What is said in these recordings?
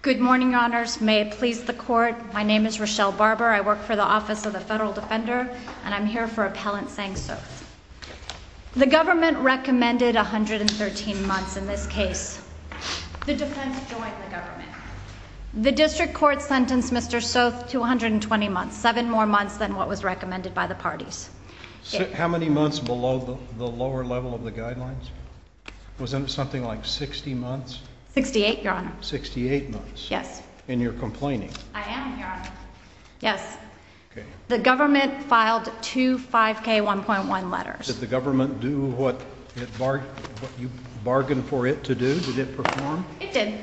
Good morning, your honors. May it please the court. My name is Rochelle Barber. I work for the Office of the Federal Defender, and I'm here for Appellant Sang Soth. The government recommended 113 months in this case. The defense joined the government. The district court sentenced Mr. Soth to 120 months, seven more months than what was recommended by the parties. How many months below the lower level of the guidelines? Wasn't it something like 60 months? 68, your honor. 68 months? Yes. And you're complaining? I am, your honor. Yes. Okay. The government filed two 5K1.1 letters. Did the government do what you bargained for it to do? Did it perform? It did.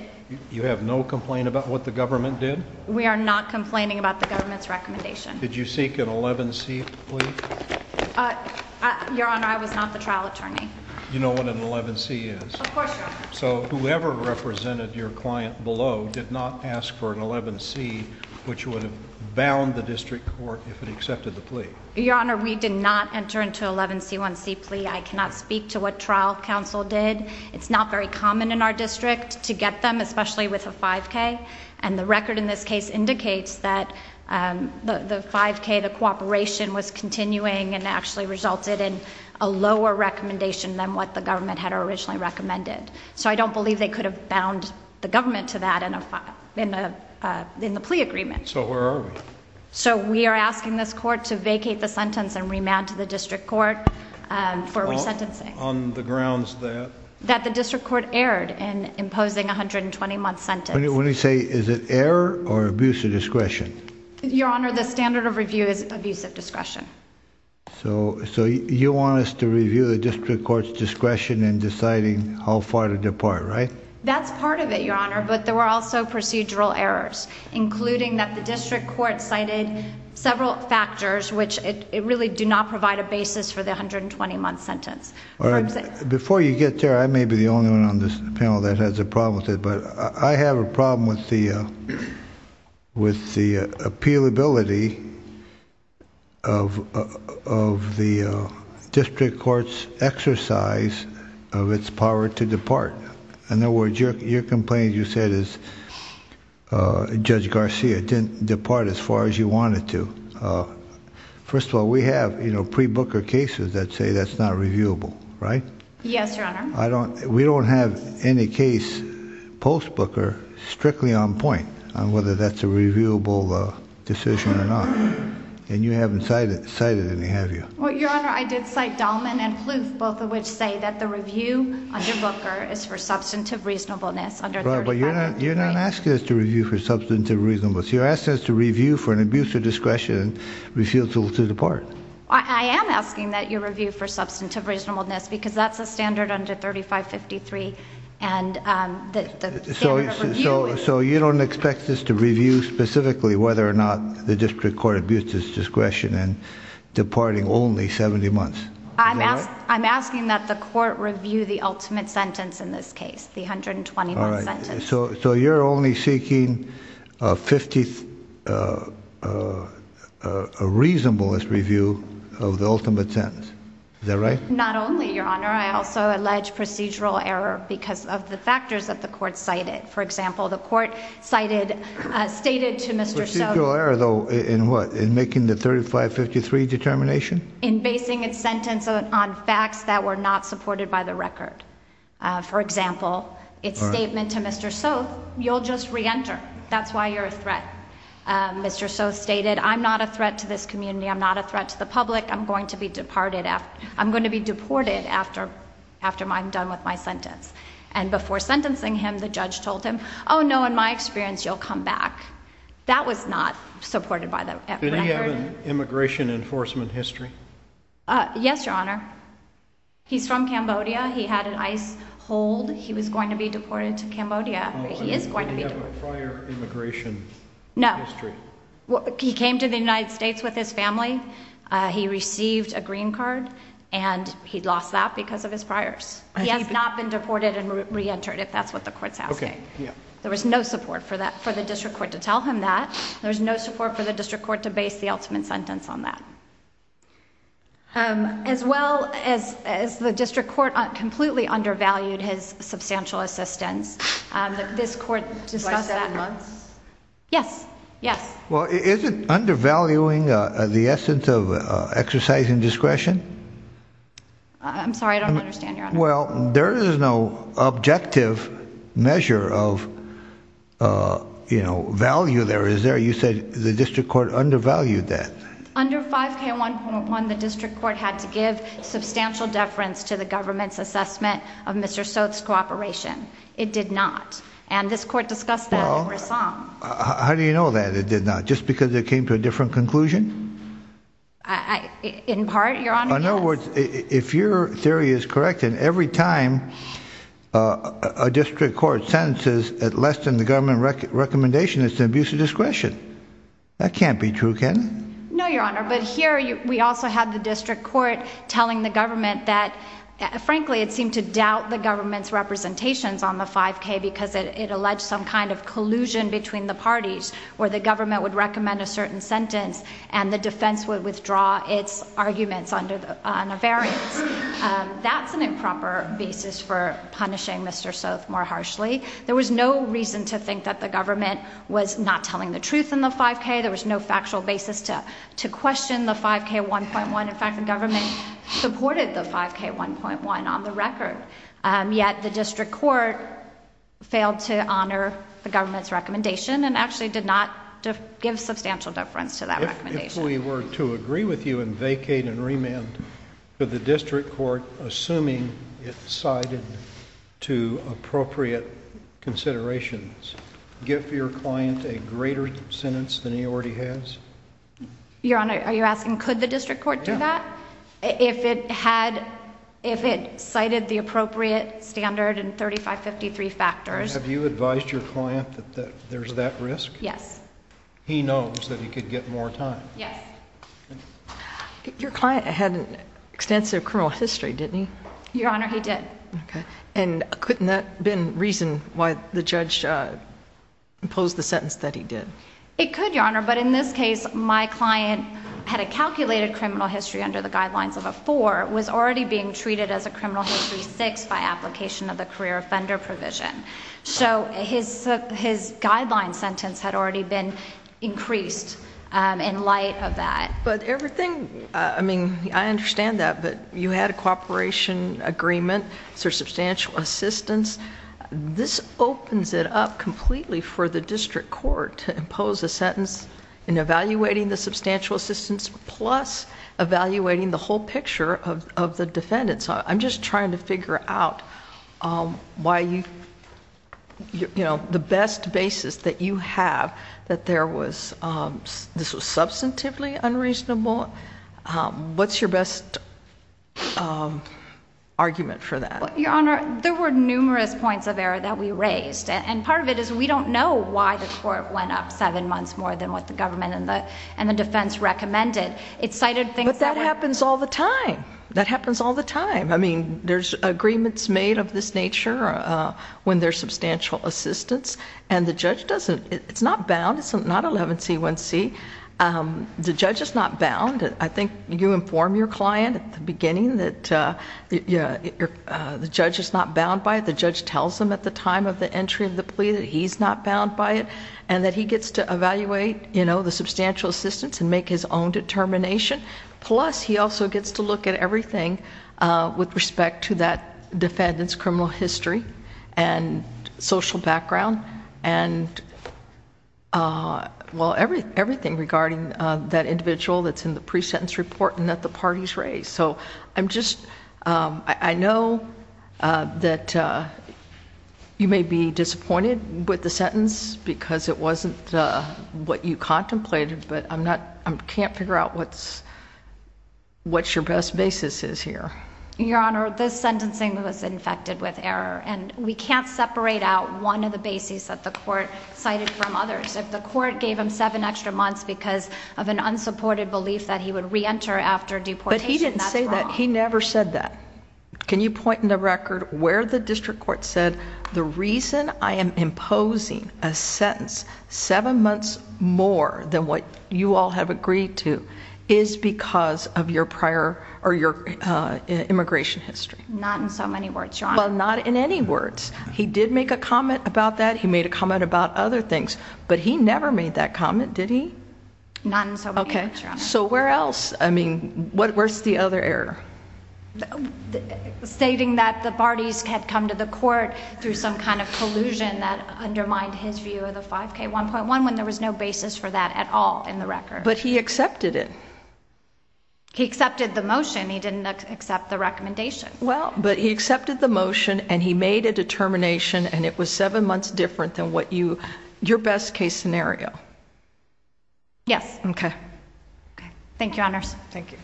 You have no complaint about what the government did? We are not complaining about the government's recommendation. Did you seek an 11C plea? Your honor, I was not the trial attorney. You know what an 11C is? Of course, your honor. So whoever represented your client below did not ask for an 11C, which would have bound the district court if it accepted the plea? Your honor, we did not enter into an 11C1C plea. I cannot speak to what trial counsel did. It's not very common in our district to get them, especially with a 5K. And the record in this case indicates that the 5K, the cooperation was continuing and actually resulted in a lower recommendation than what the government had originally recommended. So I don't believe they could have bound the government to that in the plea agreement. So where are we? So we are asking this court to vacate the sentence and remand to the district court for resentencing. On the grounds that? That the district court erred in imposing a 120-month sentence. When you say, is it error or abuse of discretion? Your honor, the standard of review is abuse of discretion. So you want us to review the district court's discretion in deciding how far to depart, right? That's part of it, your honor, but there were also procedural errors, including that the district court cited several factors which really do not provide a basis for the 120-month sentence. Before you get there, I may be the only one on this panel that has a problem with it, but I have a problem with the appealability of the district court's exercise of its power to depart. In other words, your complaint, you said, is Judge Garcia didn't depart as far as you wanted to. First of all, we have pre-Booker cases that say that's not reviewable, right? Yes, your honor. We don't have any case post-Booker strictly on point on whether that's a reviewable decision or not. And you haven't cited any, have you? Well, your honor, I did cite Dahlman and Plouffe, both of which say that the review under Booker is for substantive reasonableness. But you're not asking us to review for substantive reasonableness. You're asking us to review for an abuse of discretion and refusal to depart. I am asking that you review for substantive reasonableness, because that's a standard under 3553 and the standard of review. So you don't expect us to review specifically whether or not the district court abused its discretion in departing only 70 months? I'm asking that the court review the ultimate sentence in this case, the 120-month sentence. So you're only seeking a 50, a reasonableness review of the ultimate sentence. Is that right? Not only, your honor. I also allege procedural error because of the factors that the court cited. For example, the court cited, stated to Mr. Soto Procedural error, though, in what? In making the 3553 determination? In basing its sentence on facts that were not supported by the record. For example, its statement to Mr. Soto, you'll just reenter. That's why you're a threat. Mr. Soto stated, I'm not a threat to this community. I'm not a threat to the public. I'm going to be deported after I'm done with my sentence. And before sentencing him, the judge told him, oh, no, in my experience, you'll come back. That was not supported by the record. Did he have an immigration enforcement history? Yes, your honor. He's from Cambodia. He had an ICE hold. He was going to be deported to Cambodia. He is going to be deported. Did he have a prior immigration history? No. He came to the United States with his family. He received a green card and he lost that because of his priors. He has not been deported and reentered, if that's what the court's asking. There was no support for that, for the district court to tell him that. There's no support for the district court to base the ultimate sentence on that. As well as the district court completely undervalued his substantial assistance. This court discussed that. By seven months? Yes. Yes. Well, is it undervaluing the essence of exercising discretion? I'm sorry, I don't understand, your honor. Well, there is no objective measure of, you know, value there. You said the district court undervalued that. Under 5K1.1, the district court had to give substantial deference to the government's assessment of Mr. Soth's cooperation. It did not. And this court discussed that in Rassam. How do you know that it did not? Just because it came to a different conclusion? In part, your honor, yes. In other words, if your theory is correct, then every time a district court sentences at less than the government recommendation, it's an abuse of discretion. That can't be true, can it? No, your honor, but here we also have the district court telling the government that, frankly, it seemed to doubt the government's representations on the 5K because it alleged some kind of collusion between the parties where the government would recommend a certain sentence and the defense would withdraw its arguments on a variance. That's an improper basis for punishing Mr. Soth more harshly. There was no reason to think that the government was not telling the truth in the 5K. There was no factual basis to question the 5K1.1. In fact, the government supported the 5K1.1 on the record. Yet the district court failed to honor the government's recommendation and actually did not give substantial deference to that recommendation. If we were to agree with you and vacate and remand, could the district court, assuming it cited to appropriate considerations, give your client a greater sentence than he already has? Your honor, are you asking could the district court do that? Yeah. If it cited the appropriate standard and 3553 factors. Have you advised your client that there's that risk? Yes. He knows that he could get more time. Yes. Your client had an extensive criminal history, didn't he? Your honor, he did. Okay. And couldn't that have been reason why the judge imposed the sentence that he did? It could, your honor. But in this case, my client had a calculated criminal history under the guidelines of a 4, was already being treated as a criminal history 6 by application of the career offender provision. His guideline sentence had already been increased in light of that. But everything... I mean, I understand that, but you had a cooperation agreement for substantial assistance. This opens it up completely for the district court to impose a sentence in evaluating the substantial assistance plus evaluating the whole picture of the defendant. So I'm just trying to figure out the best basis that you have that this was substantively unreasonable. What's your best argument for that? Your honor, there were numerous points of error that we raised. And part of it is we don't know why the court went up 7 months more than what the government and the defense recommended. It cited things that were... But that happens all the time. I mean, there's agreements made of this nature when there's substantial assistance. And the judge doesn't... it's not bound. It's not 11C1C. The judge is not bound. I think you inform your client at the beginning that the judge is not bound by it. The judge tells them at the time of the entry of the plea that he's not bound by it. And that he gets to evaluate the substantial assistance and make his own determination. Plus, he also gets to look at everything with respect to that defendant's criminal history and social background. And, well, everything regarding that individual that's in the pre-sentence report and that the parties raised. So I'm just... I know that you may be disappointed with the sentence because it wasn't what you contemplated. But I'm not... I can't figure out what's your best basis is here. Your Honor, this sentencing was infected with error. And we can't separate out one of the bases that the court cited from others. If the court gave him seven extra months because of an unsupported belief that he would reenter after deportation, that's wrong. But he didn't say that. He never said that. Can you point in the record where the district court said, the reason I am imposing a sentence seven months more than what you all have agreed to is because of your prior... or your immigration history? Not in so many words, Your Honor. Well, not in any words. He did make a comment about that. He made a comment about other things. But he never made that comment, did he? Not in so many words, Your Honor. Okay. So where else? I mean, where's the other error? Stating that the Bardis had come to the court through some kind of collusion that undermined his view of the 5K1.1 when there was no basis for that at all in the record. But he accepted it. He accepted the motion. He didn't accept the recommendation. Well... But he accepted the motion, and he made a determination, and it was seven months different than what you... your best case scenario. Yes. Okay. Thank you, Your Honors. Thank you.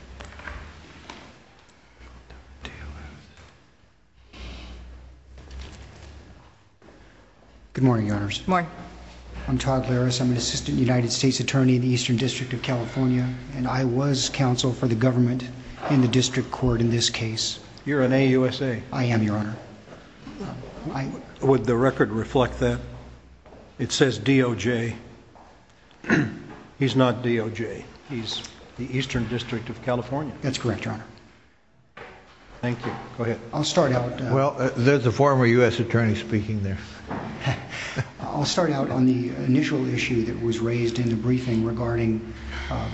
Good morning, Your Honors. Good morning. I'm Todd Laris. I'm an assistant United States attorney in the Eastern District of California, and I was counsel for the government in the district court in this case. You're an AUSA. I am, Your Honor. Would the record reflect that? It says DOJ. He's not DOJ. He's the Eastern District of California. That's correct, Your Honor. Thank you. Go ahead. I'll start out... Well, there's a former U.S. attorney speaking there. I'll start out on the initial issue that was raised in the briefing regarding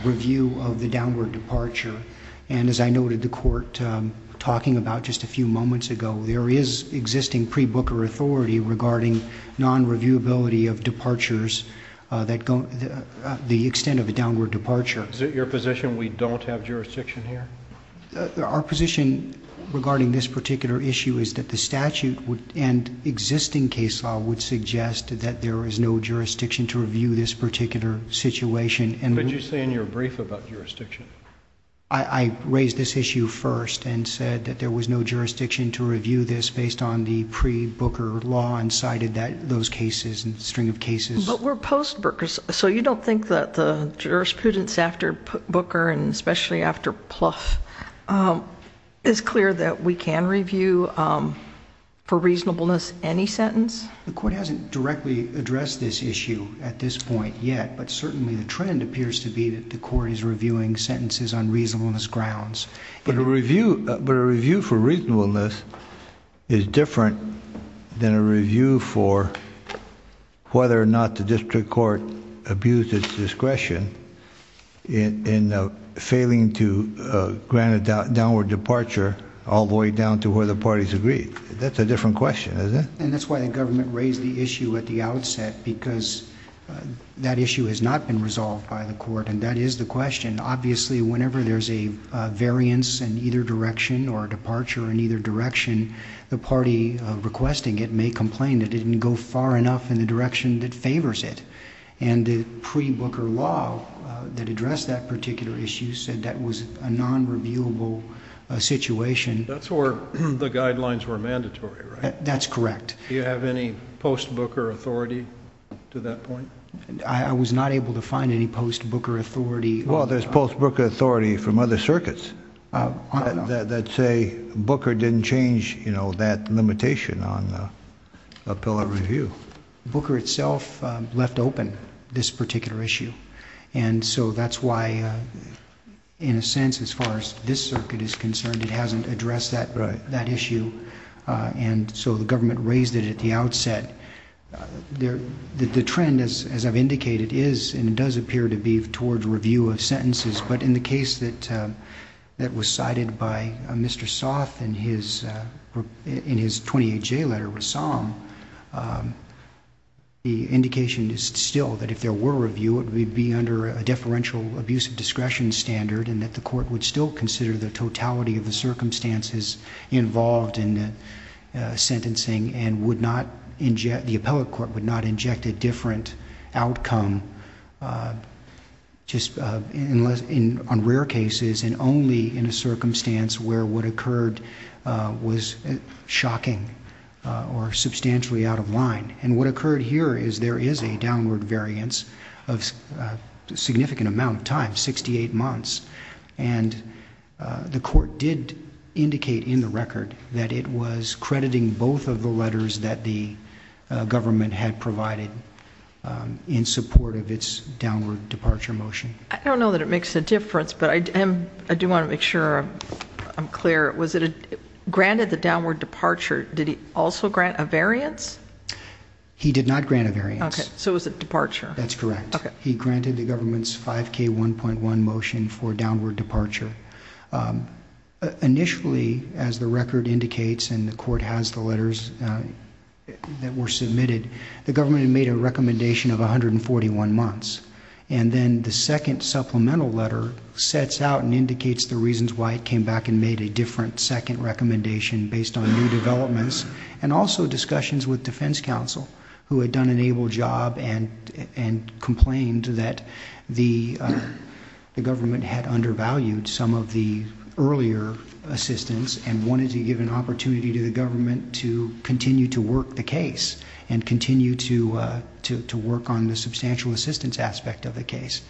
review of the downward departure. And, as I noted, the court talking about just a few moments ago, there is existing pre-Booker authority regarding non-reviewability of departures that... the extent of a downward departure. Is it your position we don't have jurisdiction here? Our position regarding this particular issue is that the statute and existing case law would suggest that there is no jurisdiction to review this particular situation. What did you say in your brief about jurisdiction? I raised this issue first and said that there was no jurisdiction to review this based on the pre-Booker law and cited those cases and string of cases. But we're post-Bookers, so you don't think that the jurisprudence after Booker and especially after Plouffe is clear that we can review for reasonableness any sentence? The court hasn't directly addressed this issue at this point yet, but certainly the trend appears to be that the court is reviewing sentences on reasonableness grounds. But a review for reasonableness is different than a review for whether or not the district court abused its discretion in failing to grant a downward departure all the way down to where the parties agreed. That's a different question, isn't it? And that's why the government raised the issue at the outset, because that issue has not been resolved by the court, and that is the question. Obviously, whenever there's a variance in either direction or a departure in either direction, the party requesting it may complain that it didn't go far enough in the direction that favors it. And the pre-Booker law that addressed that particular issue said that was a non-reviewable situation. That's where the guidelines were mandatory, right? That's correct. Do you have any post-Booker authority to that point? I was not able to find any post-Booker authority. Well, there's post-Booker authority from other circuits that say Booker didn't change, you know, that limitation on a pillow review. Booker itself left open this particular issue. And so that's why, in a sense, as far as this circuit is concerned, it hasn't addressed that issue. And so the government raised it at the outset. The trend, as I've indicated, is and does appear to be towards review of sentences. But in the case that was cited by Mr. Soth in his 28J letter, Rassam, the indication is still that if there were review, it would be under a deferential abuse of discretion standard, and that the court would still consider the totality of the circumstances involved in the sentencing, and the appellate court would not inject a different outcome on rare cases, and only in a circumstance where what occurred was shocking or substantially out of line. And what occurred here is there is a downward variance of a significant amount of time, 68 months. And the court did indicate in the record that it was crediting both of the letters that the government had provided in support of its downward departure motion. I don't know that it makes a difference, but I do want to make sure I'm clear. Was it granted the downward departure? Did he also grant a variance? He did not grant a variance. Okay, so it was a departure. That's correct. He granted the government's 5K1.1 motion for downward departure. Initially, as the record indicates, and the court has the letters that were submitted, the government had made a recommendation of 141 months. And then the second supplemental letter sets out and indicates the reasons why it came back and made a different second recommendation based on new developments, and also discussions with defense counsel who had done an able job and complained that the government had undervalued some of the earlier assistance and wanted to give an opportunity to the government to continue to work the case and continue to work on the substantial assistance aspect of the case.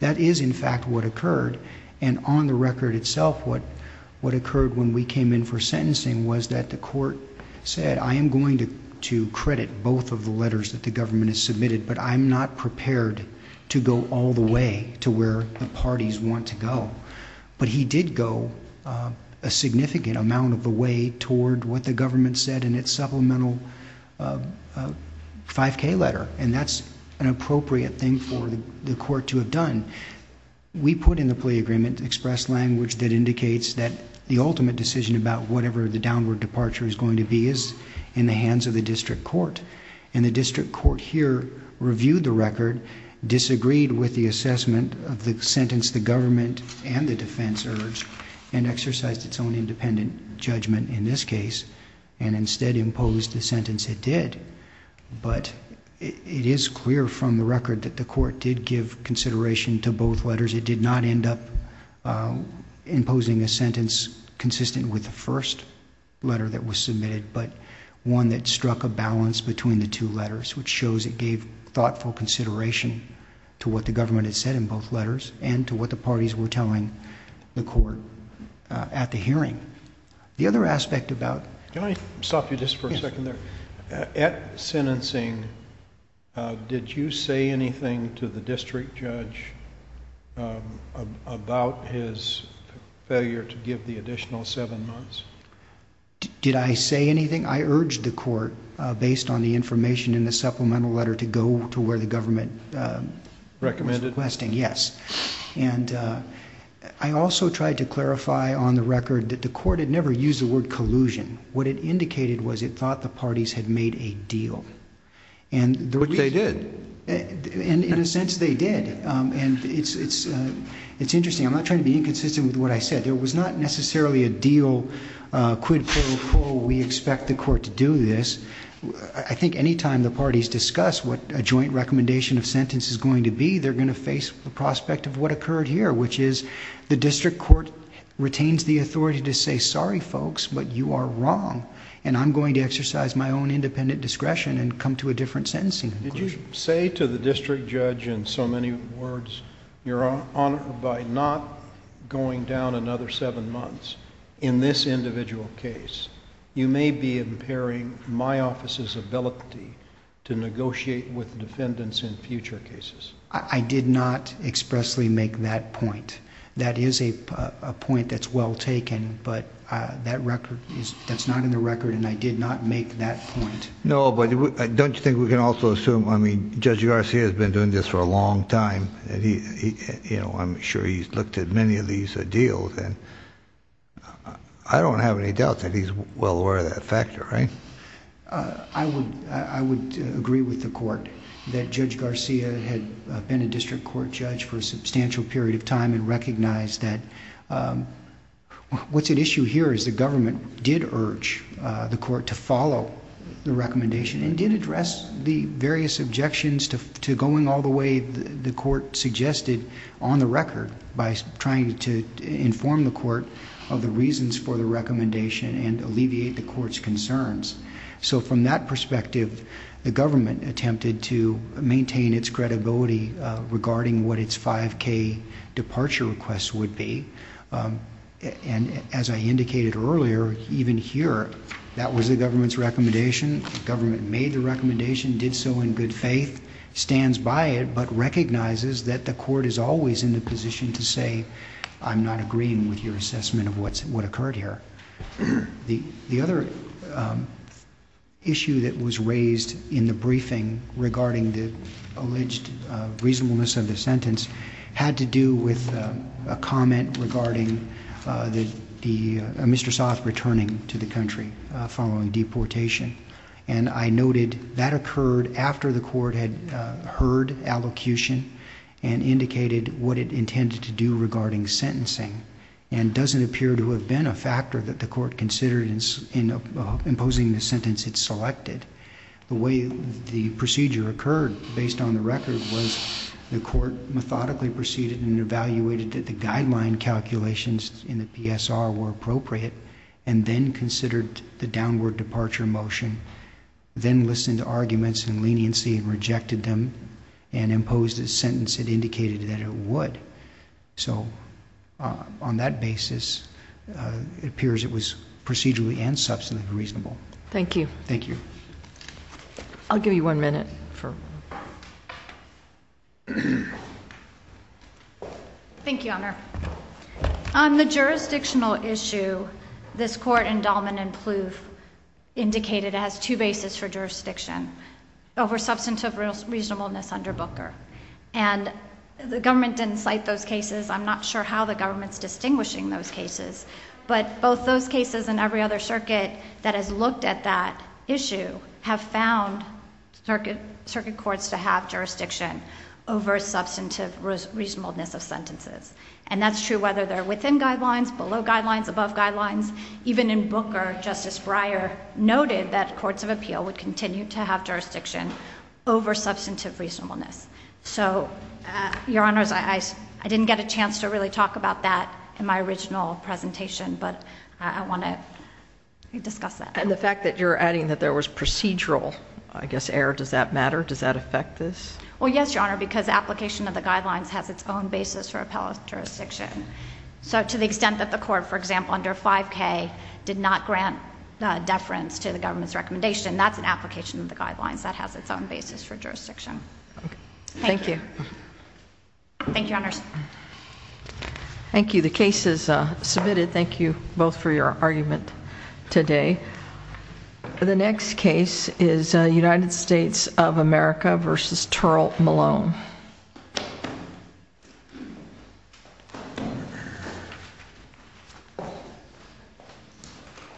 That is, in fact, what occurred. And on the record itself, what occurred when we came in for sentencing was that the court said, I am going to credit both of the letters that the government has submitted, but I'm not prepared to go all the way to where the parties want to go. But he did go a significant amount of the way toward what the government said in its supplemental 5K letter, and that's an appropriate thing for the court to have done. We put in the plea agreement express language that indicates that the ultimate decision about whatever the downward departure is going to be is in the hands of the district court. And the district court here reviewed the record, disagreed with the assessment of the sentence the government and the defense urged, and exercised its own independent judgment in this case, and instead imposed the sentence it did. But it is clear from the record that the court did give consideration to both letters. It did not end up imposing a sentence consistent with the first letter that was submitted, but one that struck a balance between the two letters, which shows it gave thoughtful consideration to what the government had said in both letters and to what the parties were telling the court at the hearing. The other aspect about... Can I stop you just for a second there? Yes. At sentencing, did you say anything to the district judge about his failure to give the additional seven months? Did I say anything? I urged the court, based on the information in the supplemental letter, to go to where the government was requesting. Recommended? Yes. And I also tried to clarify on the record that the court had never used the word collusion. What it indicated was it thought the parties had made a deal. But they did. In a sense, they did. And it's interesting. I'm not trying to be inconsistent with what I said. There was not necessarily a deal, quid pro quo, we expect the court to do this. I think any time the parties discuss what a joint recommendation of sentence is going to be, they're going to face the prospect of what occurred here, which is the district court retains the authority to say, sorry folks, but you are wrong, and I'm going to exercise my own independent discretion and come to a different sentencing conclusion. Did you say to the district judge, in so many words, you're honored by not going down another seven months in this individual case? You may be impairing my office's ability to negotiate with defendants in future cases. I did not expressly make that point. That is a point that's well taken, but that's not in the record, and I did not make that point. No, but don't you think we can also assume... I mean, Judge Garcia has been doing this for a long time, and I'm sure he's looked at many of these deals, and I don't have any doubt that he's well aware of that factor, right? I would agree with the court that Judge Garcia had been a district court judge for a substantial period of time and recognized that... What's at issue here is the government did urge the court to follow the recommendation and did address the various objections to going all the way the court suggested on the record by trying to inform the court of the reasons for the recommendation and alleviate the court's concerns. So from that perspective, the government attempted to maintain its credibility regarding what its 5K departure request would be, and as I indicated earlier, even here, that was the government's recommendation. The government made the recommendation, did so in good faith, stands by it, but recognizes that the court is always in the position to say, I'm not agreeing with your assessment of what occurred here. The other issue that was raised in the briefing regarding the alleged reasonableness of the sentence had to do with a comment regarding Mr. Soth returning to the country following deportation, and I noted that occurred after the court had heard allocution and indicated what it intended to do regarding sentencing and doesn't appear to have been a factor that the court considered in imposing the sentence it selected. The way the procedure occurred based on the record was the court methodically proceeded and evaluated that the guideline calculations in the PSR were appropriate and then considered the downward departure motion, then listened to arguments and leniency and rejected them and imposed a sentence it indicated that it would. So on that basis, it appears it was procedurally and substantively reasonable. Thank you. Thank you. I'll give you one minute. Thank you, Honor. On the jurisdictional issue, this court endowment and ploof indicated it has two bases for jurisdiction, over substantive reasonableness under Booker, and the government didn't cite those cases. I'm not sure how the government's distinguishing those cases, but both those cases and every other circuit that has looked at that issue have found circuit courts to have jurisdiction over substantive reasonableness of sentences, and that's true whether they're within guidelines, below guidelines, above guidelines. Even in Booker, Justice Breyer noted that courts of appeal would continue to have jurisdiction over substantive reasonableness. So, Your Honors, I didn't get a chance to really talk about that in my original presentation, but I want to discuss that. And the fact that you're adding that there was procedural, I guess, error, does that matter? Does that affect this? Well, yes, Your Honor, because application of the guidelines has its own basis for appellate jurisdiction. So to the extent that the court, for example, under 5K, did not grant deference to the government's recommendation, that's an application of the guidelines. That has its own basis for jurisdiction. Thank you. Thank you, Your Honors. Thank you. The case is submitted. Thank you both for your argument today. The next case is United States of America v. Terrell Malone.